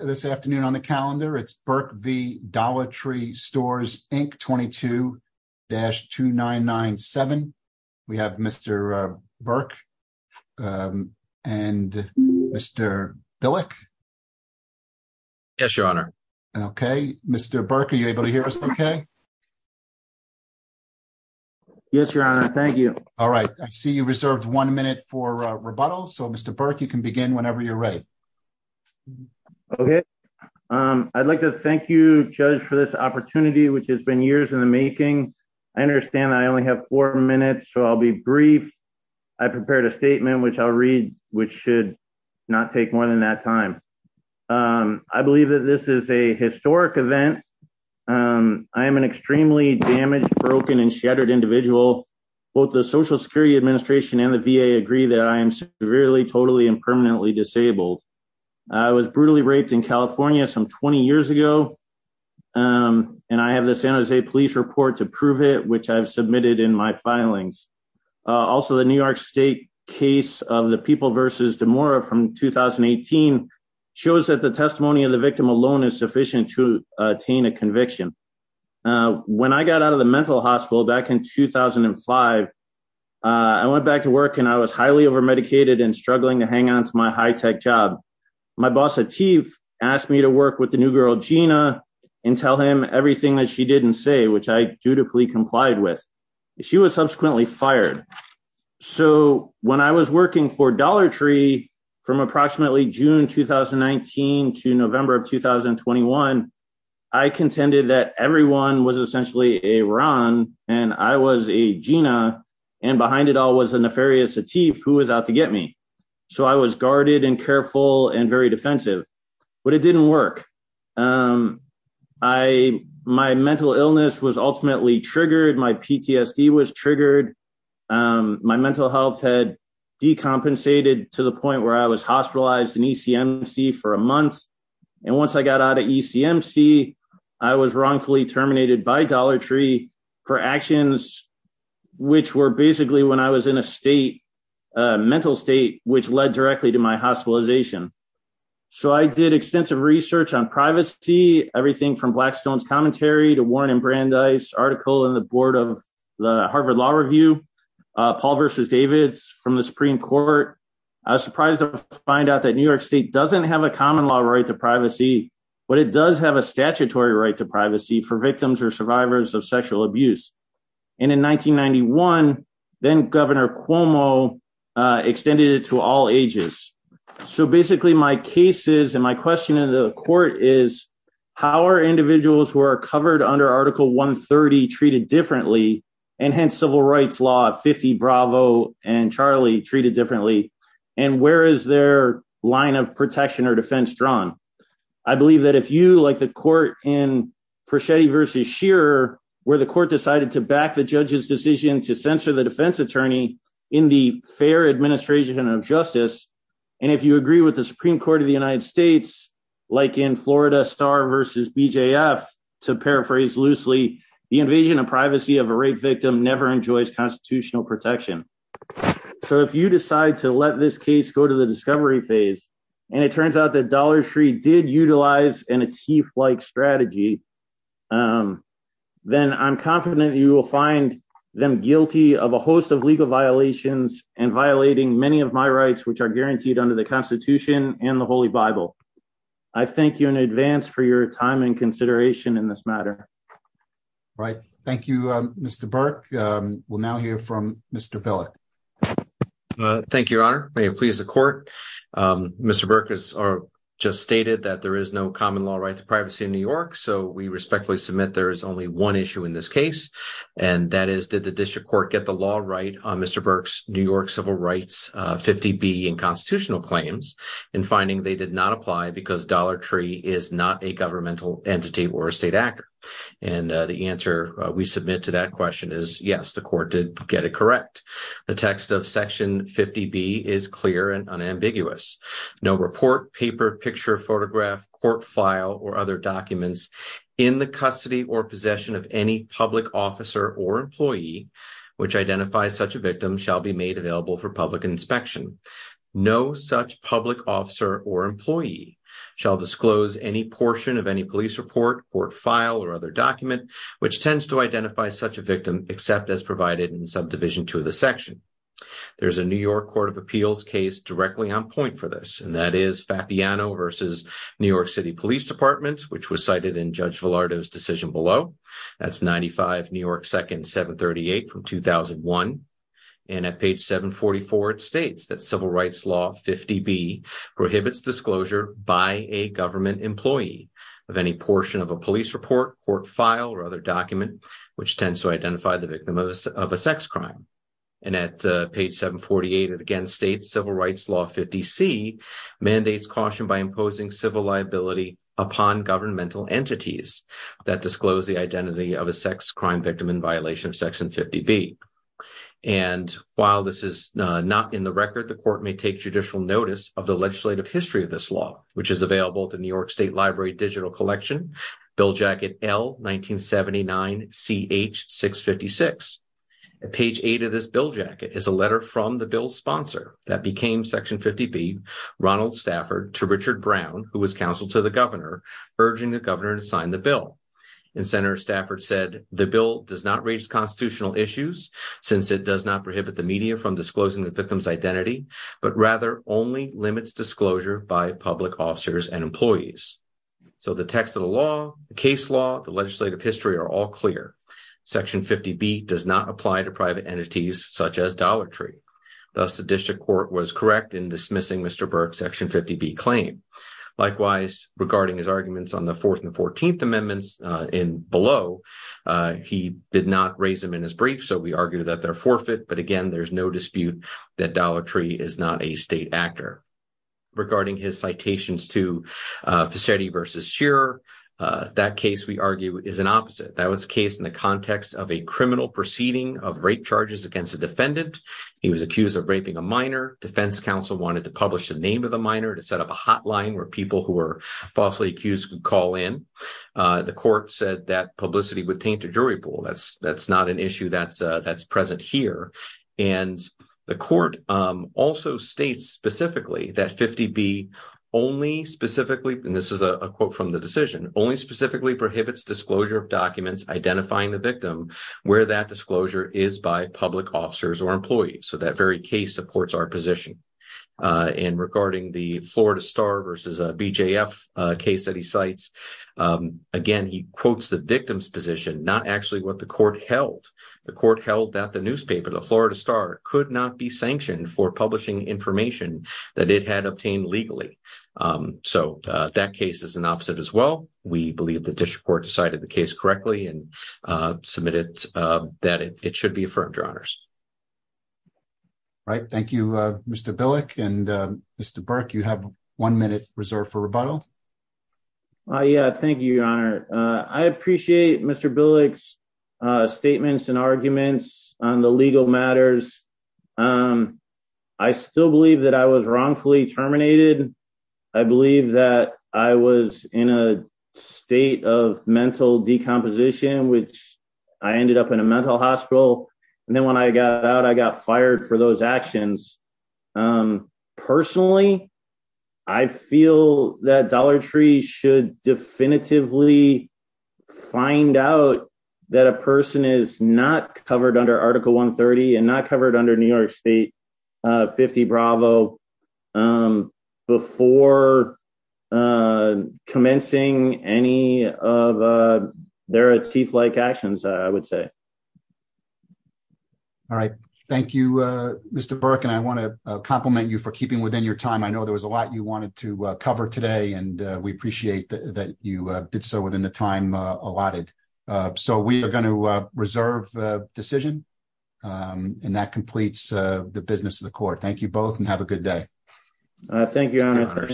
this afternoon on the calendar. It's Burke v. Dollar Tree Stores, Inc. 22-2997. We have Mr. Burke and Mr. Billick. Yes, Your Honor. Okay, Mr. Burke, are you able to hear us okay? Yes, Your Honor, thank you. All right, I see you reserved one minute for okay. I'd like to thank you, Judge, for this opportunity, which has been years in the making. I understand I only have four minutes, so I'll be brief. I prepared a statement, which I'll read, which should not take more than that time. I believe that this is a historic event. I am an extremely damaged, broken, and shattered individual. Both the Social Security Administration and the VA agree that I am severely, totally, and permanently disabled. I was brutally raped in California some 20 years ago, and I have the San Jose Police report to prove it, which I've submitted in my filings. Also, the New York State case of the People v. DeMora from 2018 shows that the testimony of the victim alone is sufficient to attain a conviction. When I got out of the work and I was highly overmedicated and struggling to hang on to my high-tech job, my boss, Atif, asked me to work with the new girl, Gina, and tell him everything that she didn't say, which I dutifully complied with. She was subsequently fired. So when I was working for Dollar Tree from approximately June 2019 to November of 2021, I contended that everyone was essentially a Ron, and I was a Gina, and behind it all was a nefarious Atif who was out to get me. So I was guarded and careful and very defensive, but it didn't work. My mental illness was ultimately triggered. My PTSD was triggered. My mental health had decompensated to the point where I was hospitalized in ECMC for a month. Once I got out of ECMC, I was wrongfully terminated by Dollar Tree for actions which were basically when I was in a state, mental state, which led directly to my hospitalization. So I did extensive research on privacy, everything from Blackstone's commentary to Warren and Brandeis' article in the board of the Harvard Law Review, Paul v. Davids from the Supreme Court. I was surprised to find out that New York State doesn't have a common law right to privacy, but it does have a statutory right to privacy for victims or survivors of sexual abuse. And in 1991, then-Governor Cuomo extended it to all ages. So basically my case is, and my question to the court is, how are individuals who are covered under Article 130 treated differently, and hence civil rights law 50 Bravo and Charlie treated differently, and where is their line of protection or defense drawn? I believe that if you, like the court in Proschetti v. Shearer, where the court decided to back the judge's decision to censor the defense attorney in the fair administration of justice, and if you agree with the Supreme Court of the United States, like in Florida Star v. BJF, to paraphrase loosely, the invasion of privacy of a rape victim never enjoys constitutional protection. So if you decide to let this case go to the discovery phase, and it turns out that Dollar Tree did utilize an a-teef-like strategy, then I'm confident you will find them guilty of a host of legal violations and violating many of my rights which are guaranteed under the Constitution and the Holy Bible. I thank you in advance for your time and consideration in this matter. Right. Thank you, Mr. Burke. We'll now hear from Mr. Pellick. Thank you, Your Honor. May it please the court. Mr. Burke has just stated that there is no common law right to privacy in New York, so we respectfully submit there is only one issue in this case, and that is, did the district court get the law right on Mr. Burke's New York civil rights 50B and constitutional claims in finding they did not apply because Dollar Tree is not a governmental entity or a state actor? And the answer we submit to that question is, yes, the court did get it correct. The text of section 50B is clear and unambiguous. No report, paper, picture, photograph, court file, or other documents in the custody or possession of any public officer or employee which identifies such a victim shall be made available for public inspection. No such public officer or employee shall disclose any portion of any police report, court file, or other document which tends to identify such a victim except as provided in subdivision 2 of the section. There's a New York Court of Appeals case directly on point for this, and that is Fapiano v. New York City Police Department, which was cited in Judge Villardo's decision below. That's 95 New York 2nd 738 from 2001, and at page 744 it states that civil rights law 50B prohibits disclosure by a government employee of any portion of a police report, court file, or other document which tends to identify the victim of a sex crime. And at page 748 it again states civil rights law 50C mandates caution by imposing civil liability upon governmental entities that disclose the identity of a sex crime victim in violation of section 50B. And while this is not in the record, the court may take judicial notice of the legislative history of this law, which is available at the New York State Library Digital Collection, bill jacket L-1979-CH-656. At page 8 of this bill jacket is a letter from the bill's sponsor that became section 50B, Ronald Stafford, to Richard Brown, who was counsel to the governor, urging the governor to sign the bill. And Senator Stafford said, the bill does not raise constitutional issues since it does not prohibit the media from disclosing the victim's identity, but rather only limits disclosure by public officers and employees. So the text of the law, the case law, the legislative history are all clear. Section 50B does not apply to private entities such as Dollar Tree. Thus the district court was correct in dismissing Mr. Burke's section 50B claim. Likewise, regarding his arguments on the 4th and 14th in below, he did not raise them in his brief, so we argue that they're forfeit. But again, there's no dispute that Dollar Tree is not a state actor. Regarding his citations to Facetti v. Shearer, that case, we argue, is an opposite. That was the case in the context of a criminal proceeding of rape charges against a defendant. He was accused of raping a minor. Defense counsel wanted to publish the name of the minor to set up a hotline where people who falsely accused could call in. The court said that publicity would taint a jury pool. That's not an issue that's present here. And the court also states specifically that 50B only specifically, and this is a quote from the decision, only specifically prohibits disclosure of documents identifying the victim where that disclosure is by public officers or employees. So that very case supports our position. And regarding the Florida Star v. BJF case that he cites, again, he quotes the victim's position, not actually what the court held. The court held that the newspaper, the Florida Star, could not be sanctioned for publishing information that it had obtained legally. So that case is an opposite as well. We believe the district court decided the case correctly and submitted that it should be affirmed, Your Honors. Right. Thank you, Mr. Billick. And Mr. Burke, you have one minute reserved for rebuttal. Yeah, thank you, Your Honor. I appreciate Mr. Billick's statements and arguments on the legal matters. I still believe that I was wrongfully terminated. I believe that I was in a state of actions. Personally, I feel that Dollar Tree should definitively find out that a person is not covered under Article 130 and not covered under New York State 50B before commencing any of their teeth-like actions, I would say. All right. Thank you, Mr. Burke. And I want to compliment you for keeping within your time. I know there was a lot you wanted to cover today, and we appreciate that you did so within the time allotted. So we are going to reserve decision, and that completes the business of the court. Thank you both, and have a good day. Thank you, Your Honor.